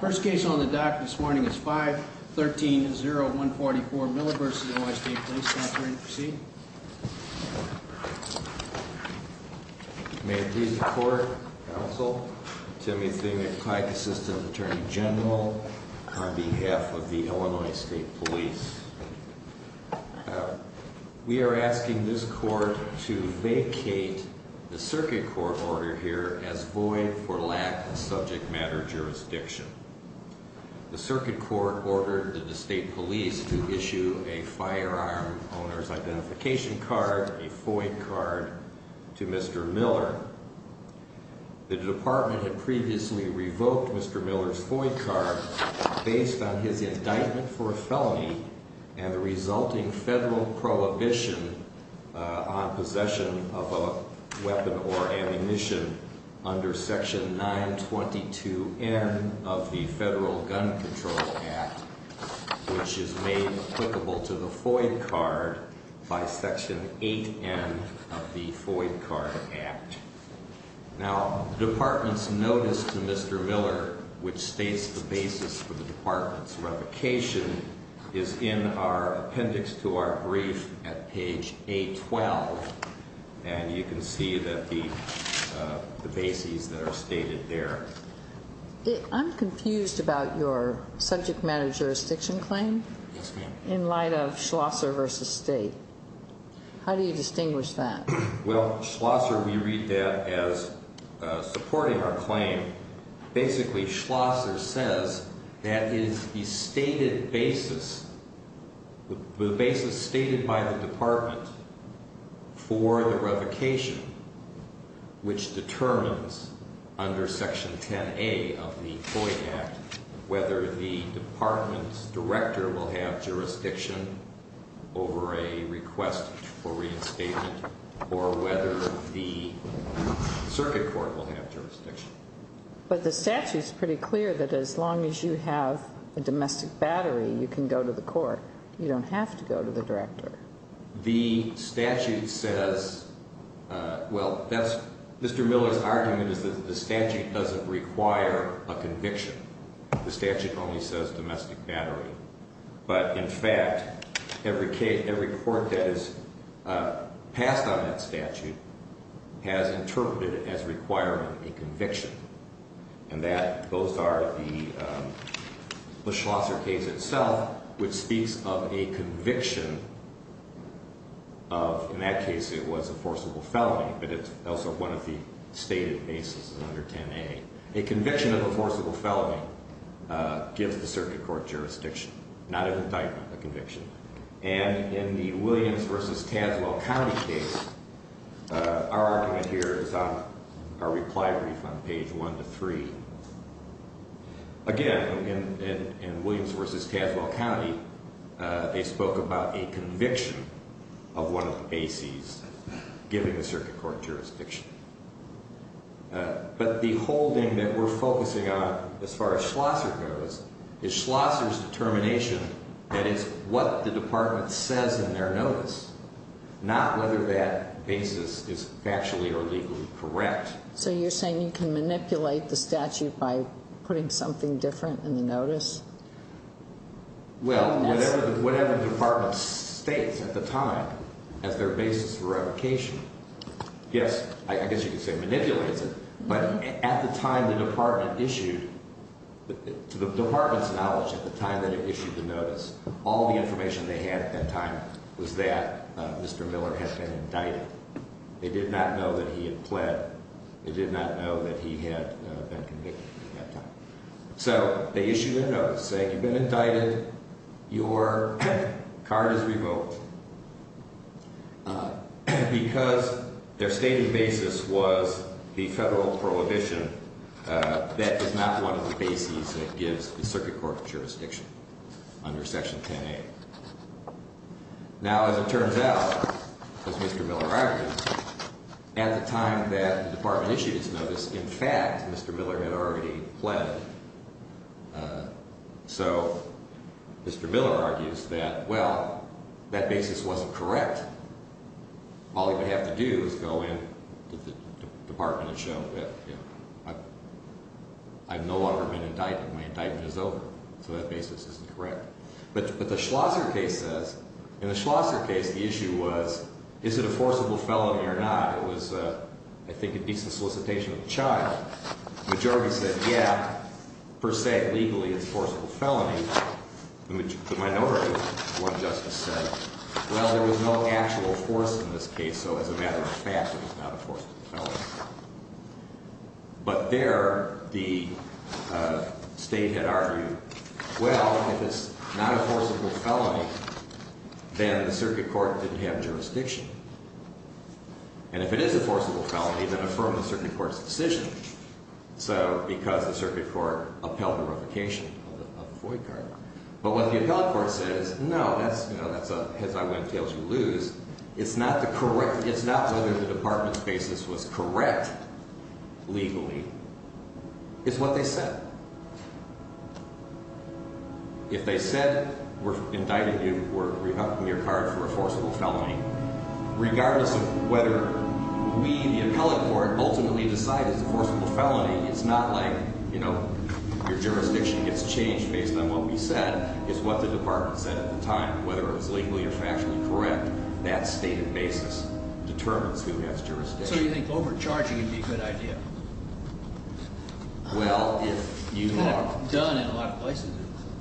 First case on the docket this morning is 513-0144 Miller v. Illinois State Police. May it please the court, counsel, Timmy Thieme, Applied Assistant Attorney General, on behalf of the Illinois State Police. We are asking this court to vacate the circuit court order here as void for lack of subject matter jurisdiction. The circuit court ordered the state police to issue a firearm owner's identification card, a FOIA card, to Mr. Miller. The department had previously revoked Mr. Miller's FOIA card based on his indictment for a felony and the resulting federal prohibition on possession of a weapon or ammunition under Section 922N of the Federal Gun Control Act, which is made applicable to the FOIA card by Section 8N of the FOIA Card Act. Now, the department's notice to Mr. Miller, which states the basis for the department's revocation, is in our appendix to our brief at page A12, and you can see the bases that are stated there. I'm confused about your subject matter jurisdiction claim in light of Schlosser v. State. How do you distinguish that? Well, Schlosser, we read that as supporting our claim. Basically, Schlosser says that it is the stated basis, the basis stated by the department for the revocation, which determines under Section 10A of the FOIA Act whether the department's director will have jurisdiction over a request for reinstatement or whether the circuit court will have jurisdiction. But the statute's pretty clear that as long as you have a domestic battery, you can go to the court. You don't have to go to the director. The statute says, well, Mr. Miller's argument is that the statute doesn't require a conviction. The statute only says domestic battery. But, in fact, every court that has passed on that statute has interpreted it as requiring a conviction, and those are the Schlosser case itself, which speaks of a conviction of, in that case, it was a forcible felony, but it's also one of the stated bases under 10A. A conviction of a forcible felony gives the circuit court jurisdiction, not an indictment, a conviction. And in the Williams v. Tazewell County case, our argument here is on our reply brief on page 1 to 3. Again, in Williams v. Tazewell County, they spoke about a conviction of one of the bases giving the circuit court jurisdiction. But the whole thing that we're focusing on, as far as Schlosser goes, is Schlosser's determination, that is, what the department says in their notice, not whether that basis is factually or legally correct. So you're saying you can manipulate the statute by putting something different in the notice? Well, whatever the department states at the time as their basis for revocation, yes, I guess you could say manipulates it, but at the time the department issued, to the department's knowledge at the time that it issued the notice, all the information they had at that time was that Mr. Miller had been indicted. They did not know that he had pled. They did not know that he had been convicted at that time. So they issued a notice saying, you've been indicted, your card is revoked. Because their stated basis was the federal prohibition, that is not one of the bases that gives the circuit court jurisdiction under Section 10A. Now, as it turns out, as Mr. Miller argued, at the time that the department issued his notice, in fact, Mr. Miller had already pled. So Mr. Miller argues that, well, that basis wasn't correct. All he would have to do is go in to the department and show that I've no longer been indicted. My indictment is over. So that basis isn't correct. But the Schlosser case says, in the Schlosser case, the issue was, is it a forcible felony or not? It was, I think, a decent solicitation of the child. The majority said, yeah, per se, legally, it's a forcible felony. The minority, one justice said, well, there was no actual force in this case. So as a matter of fact, it was not a forcible felony. But there the state had argued, well, if it's not a forcible felony, then the circuit court didn't have jurisdiction. And if it is a forcible felony, then affirm the circuit court's decision. So because the circuit court upheld the revocation of the FOIA card. But what the appellate court says, no, that's a heads, I win, tails, you lose. It's not whether the department's basis was correct legally. It's what they said. If they said we're indicting you or revoking your card for a forcible felony, regardless of whether we, the appellate court, ultimately decide it's a forcible felony, it's not like, you know, your jurisdiction gets changed based on what we said. It's what the department said at the time, whether it was legally or factually correct. That stated basis determines who has jurisdiction. So you think overcharging would be a good idea? Well, if you are done in a lot of places,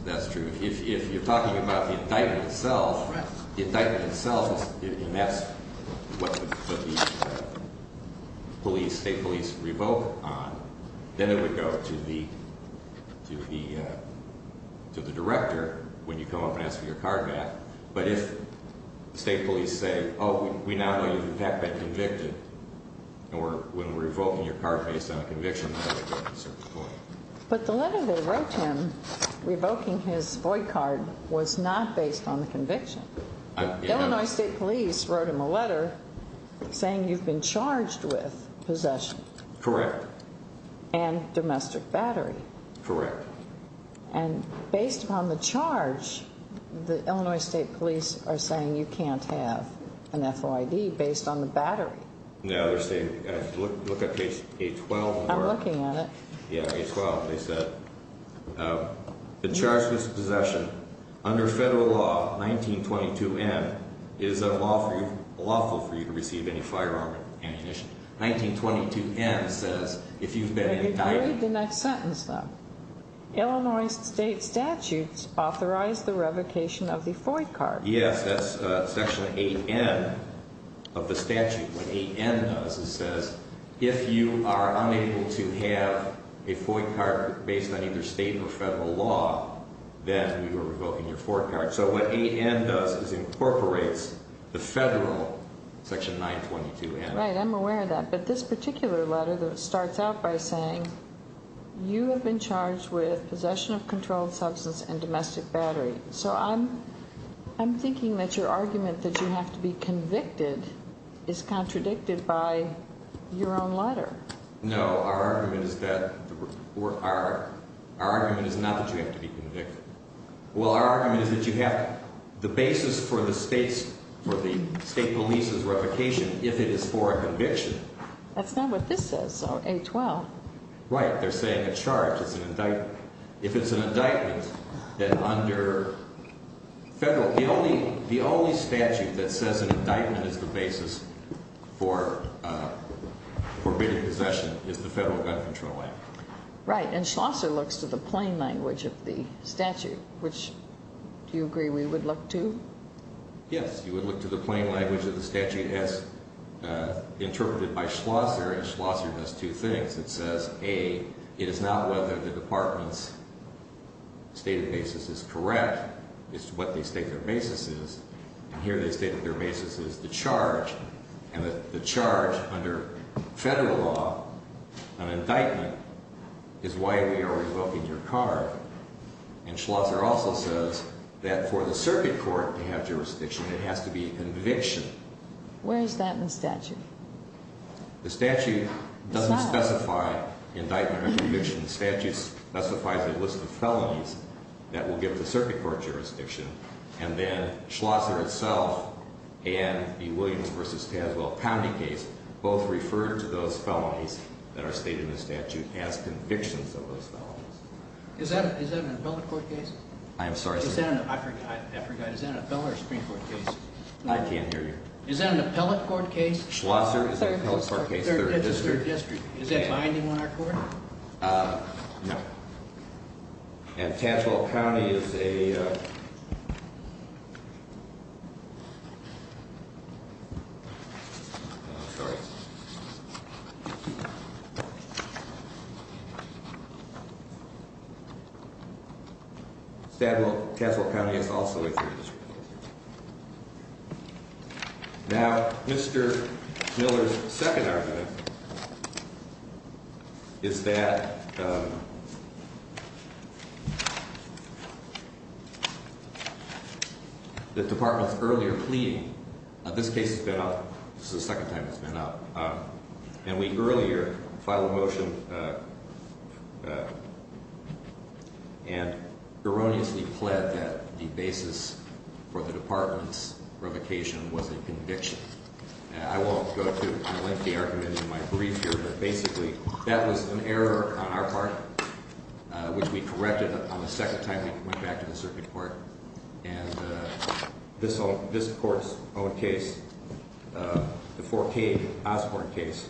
that's true. If you're talking about the indictment itself, the indictment itself, and that's what the police state police revoke on, then it would go to the to the to the director when you come up and ask for your card back. But if the state police say, oh, we now know you've in fact been convicted, or when we're revoking your card based on a conviction, that would go to a certain point. But the letter they wrote him revoking his void card was not based on the conviction. Illinois State Police wrote him a letter saying you've been charged with possession. Correct. And domestic battery. Correct. And based upon the charge, the Illinois State Police are saying you can't have an F.O.I.D. based on the battery. No, they're saying, look at page 812. I'm looking at it. Yeah, 812. They said the charges of possession under federal law 1922 M is a lawful for you to receive any firearm ammunition. 1922 M says if you've been indicted. Read the next sentence, though. Illinois state statutes authorize the revocation of the F.O.I.D. card. Yes, that's section 8N of the statute. What 8N does is says if you are unable to have a F.O.I.D. card based on either state or federal law, then you are revoking your F.O.I.D. card. So what 8N does is incorporates the federal section 922 M. Right, I'm aware of that. But this particular letter starts out by saying you have been charged with possession of controlled substance and domestic battery. So I'm thinking that your argument that you have to be convicted is contradicted by your own letter. No, our argument is not that you have to be convicted. Well, our argument is that you have the basis for the state's, for the state police's revocation if it is for a conviction. That's not what this says, so 812. Right, they're saying a charge is an indictment. If it's an indictment, then under federal, the only statute that says an indictment is the basis for forbidden possession is the Federal Gun Control Act. Right, and Schlosser looks to the plain language of the statute, which do you agree we would look to? Yes, you would look to the plain language of the statute as interpreted by Schlosser, and Schlosser does two things. It says, A, it is not whether the department's stated basis is correct. It's what they state their basis is. And here they state that their basis is the charge, and that the charge under federal law, an indictment, is why we are revoking your card. And Schlosser also says that for the circuit court to have jurisdiction, it has to be a conviction. Where is that in the statute? The statute doesn't specify indictment or conviction. The statute specifies a list of felonies that will give the circuit court jurisdiction. And then Schlosser itself and the Williams v. Tazewell County case both refer to those felonies that are stated in the statute as convictions of those felonies. Is that an appellate court case? I am sorry, sir. I forgot, is that an appellate or a Supreme Court case? I can't hear you. Is that an appellate court case? Schlosser is an appellate court case, 3rd District. Is that binding on our court? No. And Tazewell County is a... Sorry. Tazewell County is also a 3rd District. Now, Mr. Miller's second argument is that the department's earlier plea, this case has been up, this is the second time it's been up, and we earlier filed a motion and erroneously pled that the basis for the department's revocation was a conviction. I won't go through and link the argument in my brief here, but basically that was an error on our part, which we corrected on the second time we went back to the circuit court. And this court's own case, the 14 Osborne case,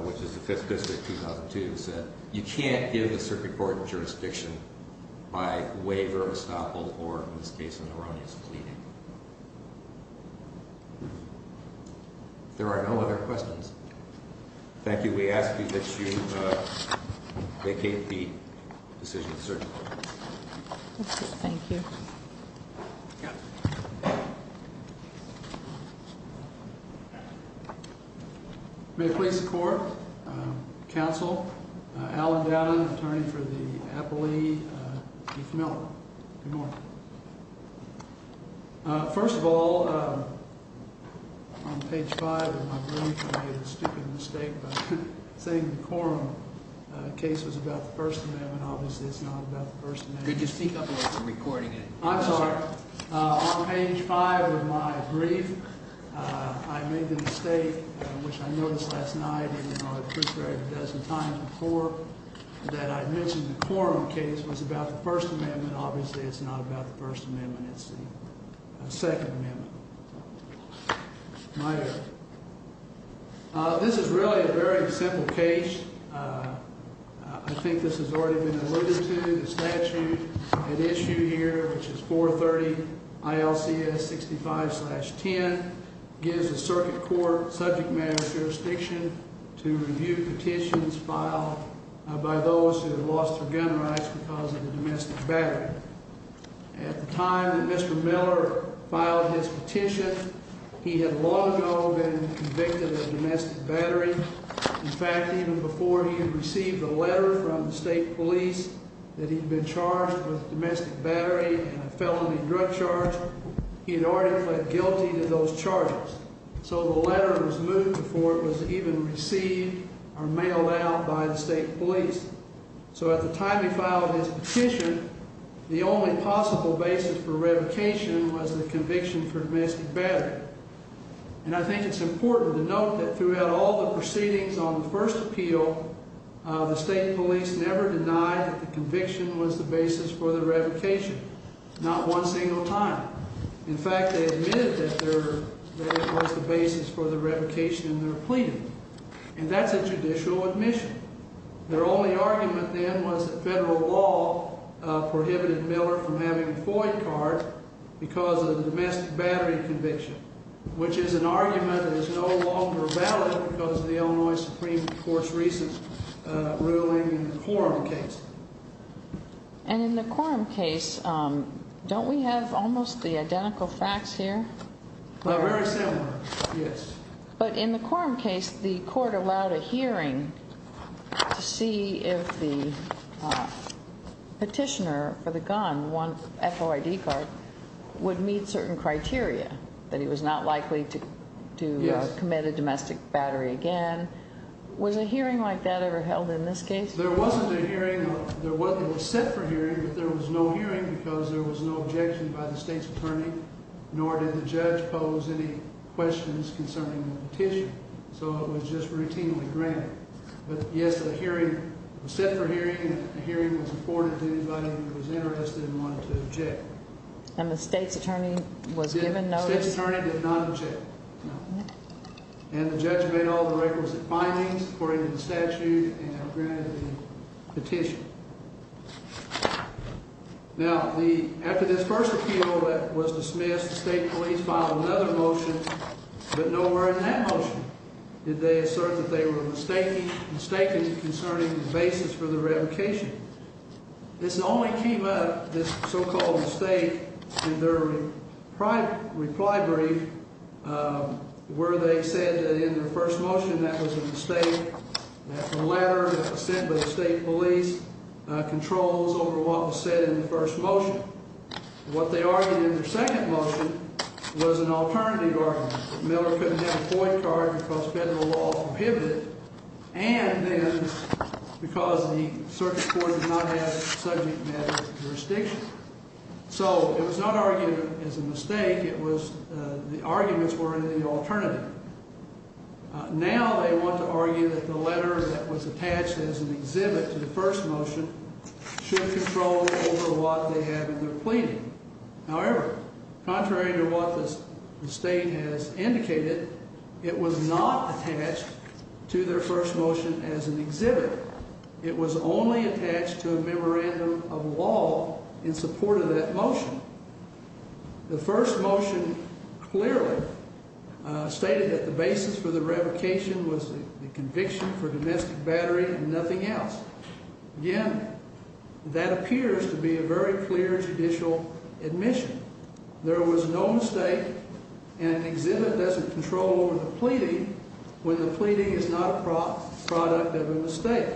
which is the 5th District, 2002, said you can't give the circuit court jurisdiction by waiver, estoppel, or, in this case, an erroneous plea. If there are no other questions, thank you. We ask that you vacate the decision, sir. Thank you. May it please the court, counsel, Alan Dowden, attorney for the appellee, Keith Miller. Good morning. First of all, on page 5 of my brief, I made a stupid mistake by saying the quorum case was about the First Amendment. Obviously, it's not about the First Amendment. Could you speak up a little bit? I'm recording it. I'm sorry. On page 5 of my brief, I made the mistake, which I noticed last night and I appreciated a dozen times before, that I mentioned the quorum case was about the First Amendment. Obviously, it's not about the First Amendment. It's the Second Amendment. This is really a very simple case. I think this has already been alluded to. The statute at issue here, which is 430 ILCS 65-10, gives the circuit court subject matter jurisdiction to review petitions filed by those who have lost their gun rights because of the domestic battery. At the time that Mr. Miller filed his petition, he had long ago been convicted of domestic battery. In fact, even before he had received a letter from the state police that he'd been charged with domestic battery and a felony drug charge, he had already pled guilty to those charges. So the letter was moved before it was even received or mailed out by the state police. So at the time he filed his petition, the only possible basis for revocation was the conviction for domestic battery. And I think it's important to note that throughout all the proceedings on the first appeal, the state police never denied that the conviction was the basis for the revocation. Not one single time. In fact, they admitted that it was the basis for the revocation in their plea. And that's a judicial admission. Their only argument then was that federal law prohibited Miller from having a FOIA card because of the domestic battery conviction, which is an argument that is no longer valid because of the Illinois Supreme Court's recent ruling in the Quorum case. And in the Quorum case, don't we have almost the identical facts here? Very similar, yes. But in the Quorum case, the court allowed a hearing to see if the petitioner for the gun, one FOIA card, would meet certain criteria, that he was not likely to commit a domestic battery again. Was a hearing like that ever held in this case? There wasn't a hearing. It was set for a hearing, but there was no hearing because there was no objection by the state's attorney, nor did the judge pose any questions concerning the petition. So it was just routinely granted. But, yes, a hearing was set for a hearing, and a hearing was afforded to anybody who was interested and wanted to object. And the state's attorney was given notice? The state's attorney did not object, no. And the judge made all the requisite findings according to the statute and granted the petition. Now, after this first appeal was dismissed, the state police filed another motion, but nowhere in that motion did they assert that they were mistaken concerning the basis for the revocation. This only came up, this so-called mistake, in their reply brief where they said that in their first motion that was a mistake. That's a letter that was sent by the state police controls over what was said in the first motion. What they argued in their second motion was an alternative argument, that Miller couldn't have a FOIA card because federal law prohibited it. And then because the circuit court did not have subject matter jurisdiction. So it was not argued as a mistake. It was the arguments were in the alternative. Now they want to argue that the letter that was attached as an exhibit to the first motion should control over what they have in their pleading. However, contrary to what the state has indicated, it was not attached to their first motion as an exhibit. It was only attached to a memorandum of law in support of that motion. The first motion clearly stated that the basis for the revocation was the conviction for domestic battery and nothing else. Again, that appears to be a very clear judicial admission. There was no mistake and an exhibit doesn't control over the pleading when the pleading is not a product of a mistake.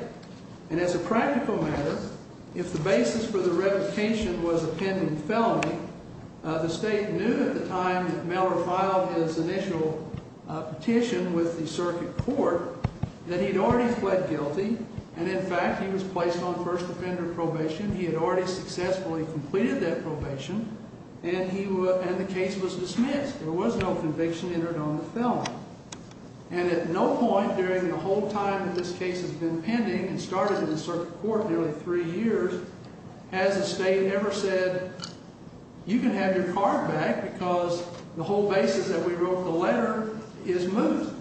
And as a practical matter, if the basis for the revocation was a pending felony, the state knew at the time that Miller filed his initial petition with the circuit court, that he'd already fled guilty. And in fact, he was placed on first offender probation. He had already successfully completed that probation. And the case was dismissed. There was no conviction entered on the felony. And at no point during the whole time that this case has been pending and started in the circuit court nearly three years, has the state ever said, you can have your card back because the whole basis that we wrote the letter is moved.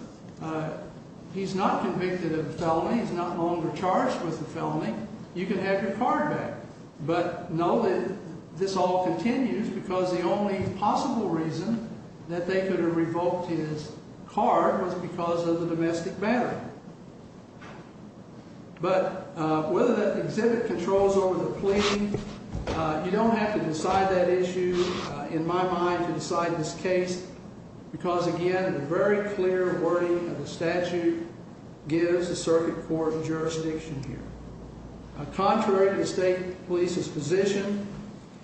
He's not convicted of a felony. He's not longer charged with the felony. You can have your card back. But know that this all continues because the only possible reason that they could have revoked his card was because of the domestic battery. But whether that exhibit controls over the pleading, you don't have to decide that issue. In my mind, to decide this case, because, again, a very clear wording of the statute gives the circuit court jurisdiction here. Contrary to the state police's position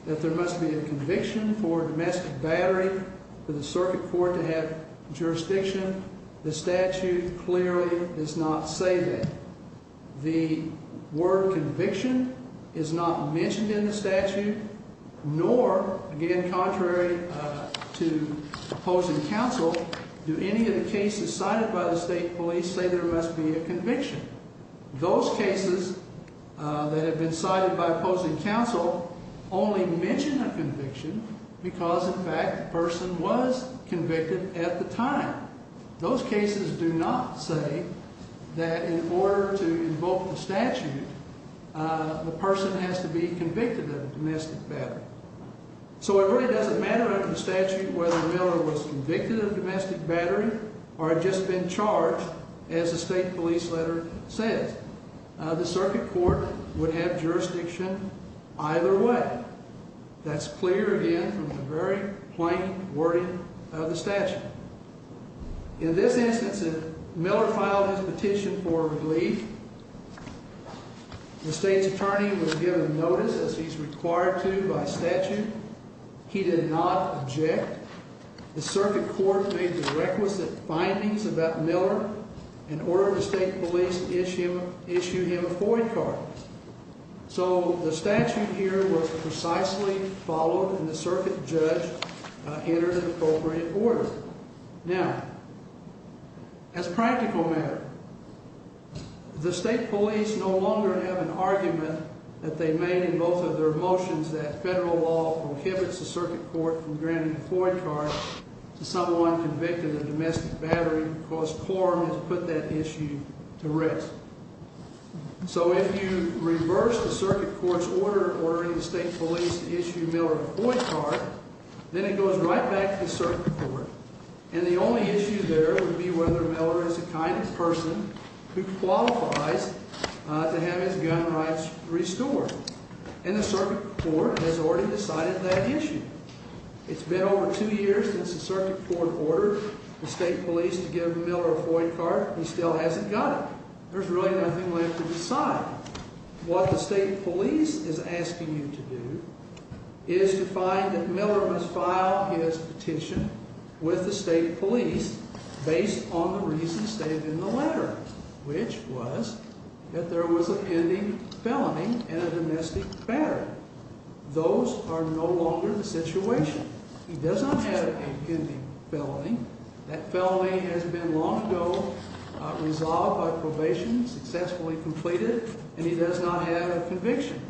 that there must be a conviction for domestic battery for the circuit court to have jurisdiction, the statute clearly does not say that. The word conviction is not mentioned in the statute, nor, again, contrary to opposing counsel. Do any of the cases cited by the state police say there must be a conviction? Those cases that have been cited by opposing counsel only mention a conviction because, in fact, the person was convicted at the time. Those cases do not say that in order to invoke the statute, the person has to be convicted of domestic battery. So it really doesn't matter under the statute whether Miller was convicted of domestic battery or had just been charged, as the state police letter says. The circuit court would have jurisdiction either way. That's clear, again, from the very plain wording of the statute. In this instance, if Miller filed his petition for relief, the state's attorney was given notice, as he's required to by statute. He did not object. The circuit court made the requisite findings about Miller in order to state police issue him a FOIA card. So the statute here was precisely followed, and the circuit judge entered an appropriate order. Now, as a practical matter, the state police no longer have an argument that they made in both of their motions that federal law prohibits the circuit court from granting a FOIA card to someone convicted of domestic battery because quorum has put that issue to rest. So if you reverse the circuit court's order in ordering the state police to issue Miller a FOIA card, then it goes right back to the circuit court. And the only issue there would be whether Miller is the kind of person who qualifies to have his gun rights restored. And the circuit court has already decided that issue. It's been over two years since the circuit court ordered the state police to give Miller a FOIA card. He still hasn't got it. There's really nothing left to decide. What the state police is asking you to do is to find that Miller must file his petition with the state police based on the reasons stated in the letter, which was that there was an ending felony in a domestic battery. Those are no longer the situation. He does not have an ending felony. That felony has been long ago resolved by probation, successfully completed, and he does not have a conviction.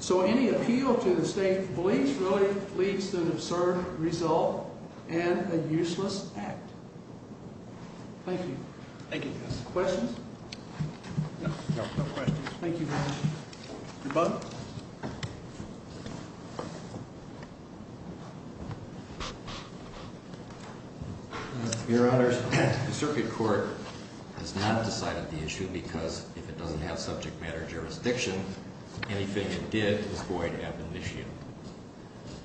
So any appeal to the state police really leads to an absurd result and a useless act. Thank you. Thank you. Questions? No, no questions. Thank you very much. Your Honor, the circuit court has not decided the issue because if it doesn't have subject matter jurisdiction, anything it did is void admonition.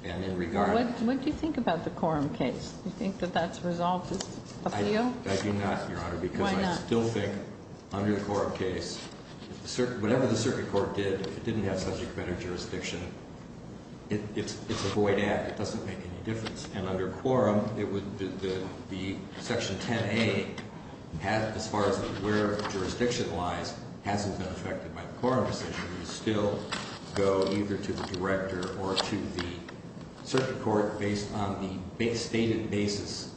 And in regard to... What do you think about the Coram case? Do you think that that's resolved as an appeal? I do not, Your Honor. Why not? I still think under the Coram case, whatever the circuit court did, if it didn't have subject matter jurisdiction, it's a void act. It doesn't make any difference. And under Coram, the Section 10A, as far as where jurisdiction lies, hasn't been affected by the Coram decision. We still go either to the director or to the circuit court based on the stated basis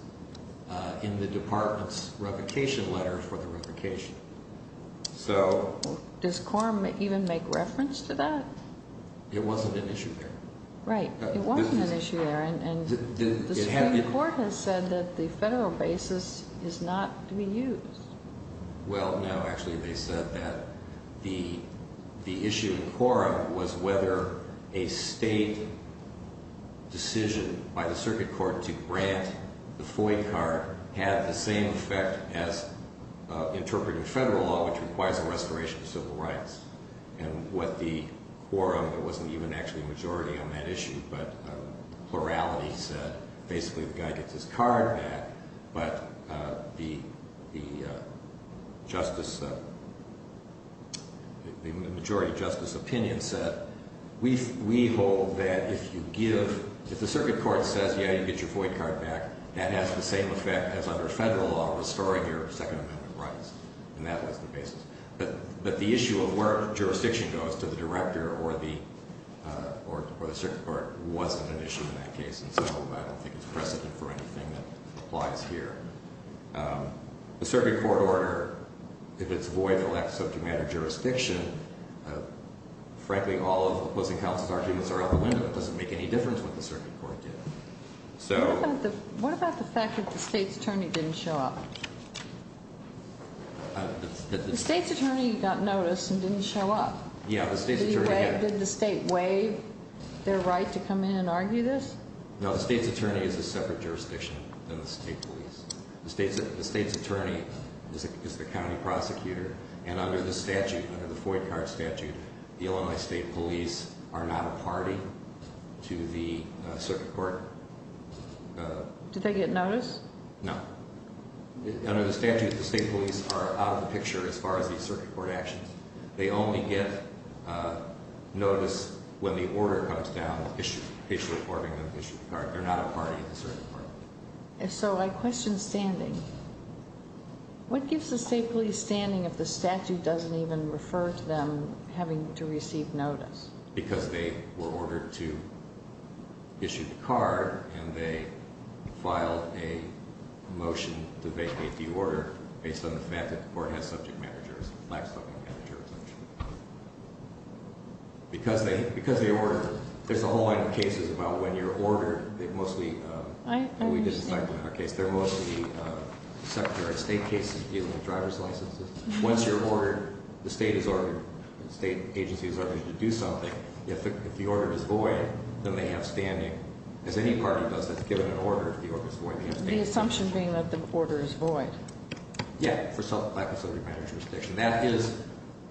in the department's revocation letter for the revocation. So... Does Coram even make reference to that? It wasn't an issue there. Right. It wasn't an issue there. And the Supreme Court has said that the federal basis is not to be used. Well, no. Actually, they said that the issue in Coram was whether a state decision by the circuit court to grant the FOIA card had the same effect as interpreting federal law, which requires a restoration of civil rights. And with the Coram, there wasn't even actually a majority on that issue, but plurality said basically the guy gets his card back. But the majority justice opinion said, we hold that if you give... If the circuit court says, yeah, you get your FOIA card back, that has the same effect as under federal law restoring your Second Amendment rights. And that was the basis. But the issue of where jurisdiction goes to the director or the circuit court wasn't an issue in that case. And so I don't think there's precedent for anything that applies here. The circuit court order, if it's void and lacks subject matter jurisdiction, frankly, all of the opposing counsel's arguments are out the window. It doesn't make any difference what the circuit court did. So... What about the fact that the state's attorney didn't show up? The state's attorney got notice and didn't show up. Yeah, the state's attorney... Did the state waive their right to come in and argue this? No, the state's attorney is a separate jurisdiction than the state police. The state's attorney is the county prosecutor. And under the statute, under the FOIA card statute, the Illinois State Police are not a party to the circuit court... Did they get notice? No. Under the statute, the state police are out of the picture as far as the circuit court actions. They only get notice when the order comes down, issued, issued according to the issued card. They're not a party to the circuit court. And so I question standing. What gives the state police standing if the statute doesn't even refer to them having to receive notice? Because they were ordered to issue the card and they filed a motion to vacate the order based on the fact that the court has subject managers, life subject managers. Because they ordered, there's a whole line of cases about when you're ordered. They mostly... I understand. We did this type of case. They're mostly secretary of state cases dealing with driver's licenses. Once you're ordered, the state is ordered, the state agency is ordered to do something, if the order is void, then they have standing. As any party does, that's given an order if the order is void. The assumption being that the order is void. Yeah, for lack of subject managerial jurisdiction. That is,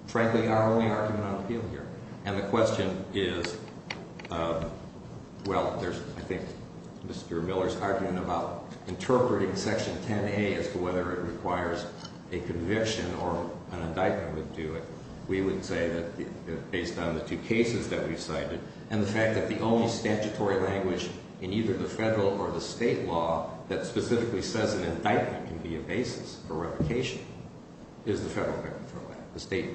frankly, our only argument on appeal here. And the question is, well, there's, I think, Mr. Miller's argument about interpreting Section 10A as to whether it requires a conviction or an indictment would do it. We would say that based on the two cases that we've cited and the fact that the only statutory language in either the federal or the state law that specifically says an indictment can be a basis for replication is the federal record for that. The state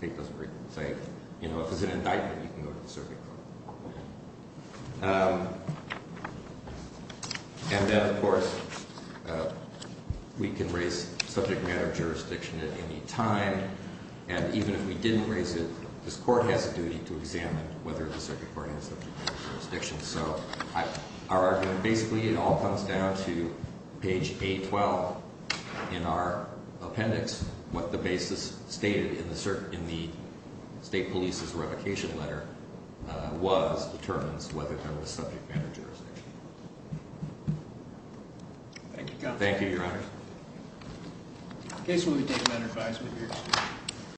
doesn't really say, you know, if it's an indictment, you can go to the circuit court. And then, of course, we can raise subject matter jurisdiction at any time. And even if we didn't raise it, this court has a duty to examine whether the circuit court has subject matter jurisdiction. So our argument, basically, it all comes down to page 812 in our appendix. What the basis stated in the state police's replication letter was determines whether there was subject matter jurisdiction. Thank you, Your Honor. In case we would take that advice, we'd be interested.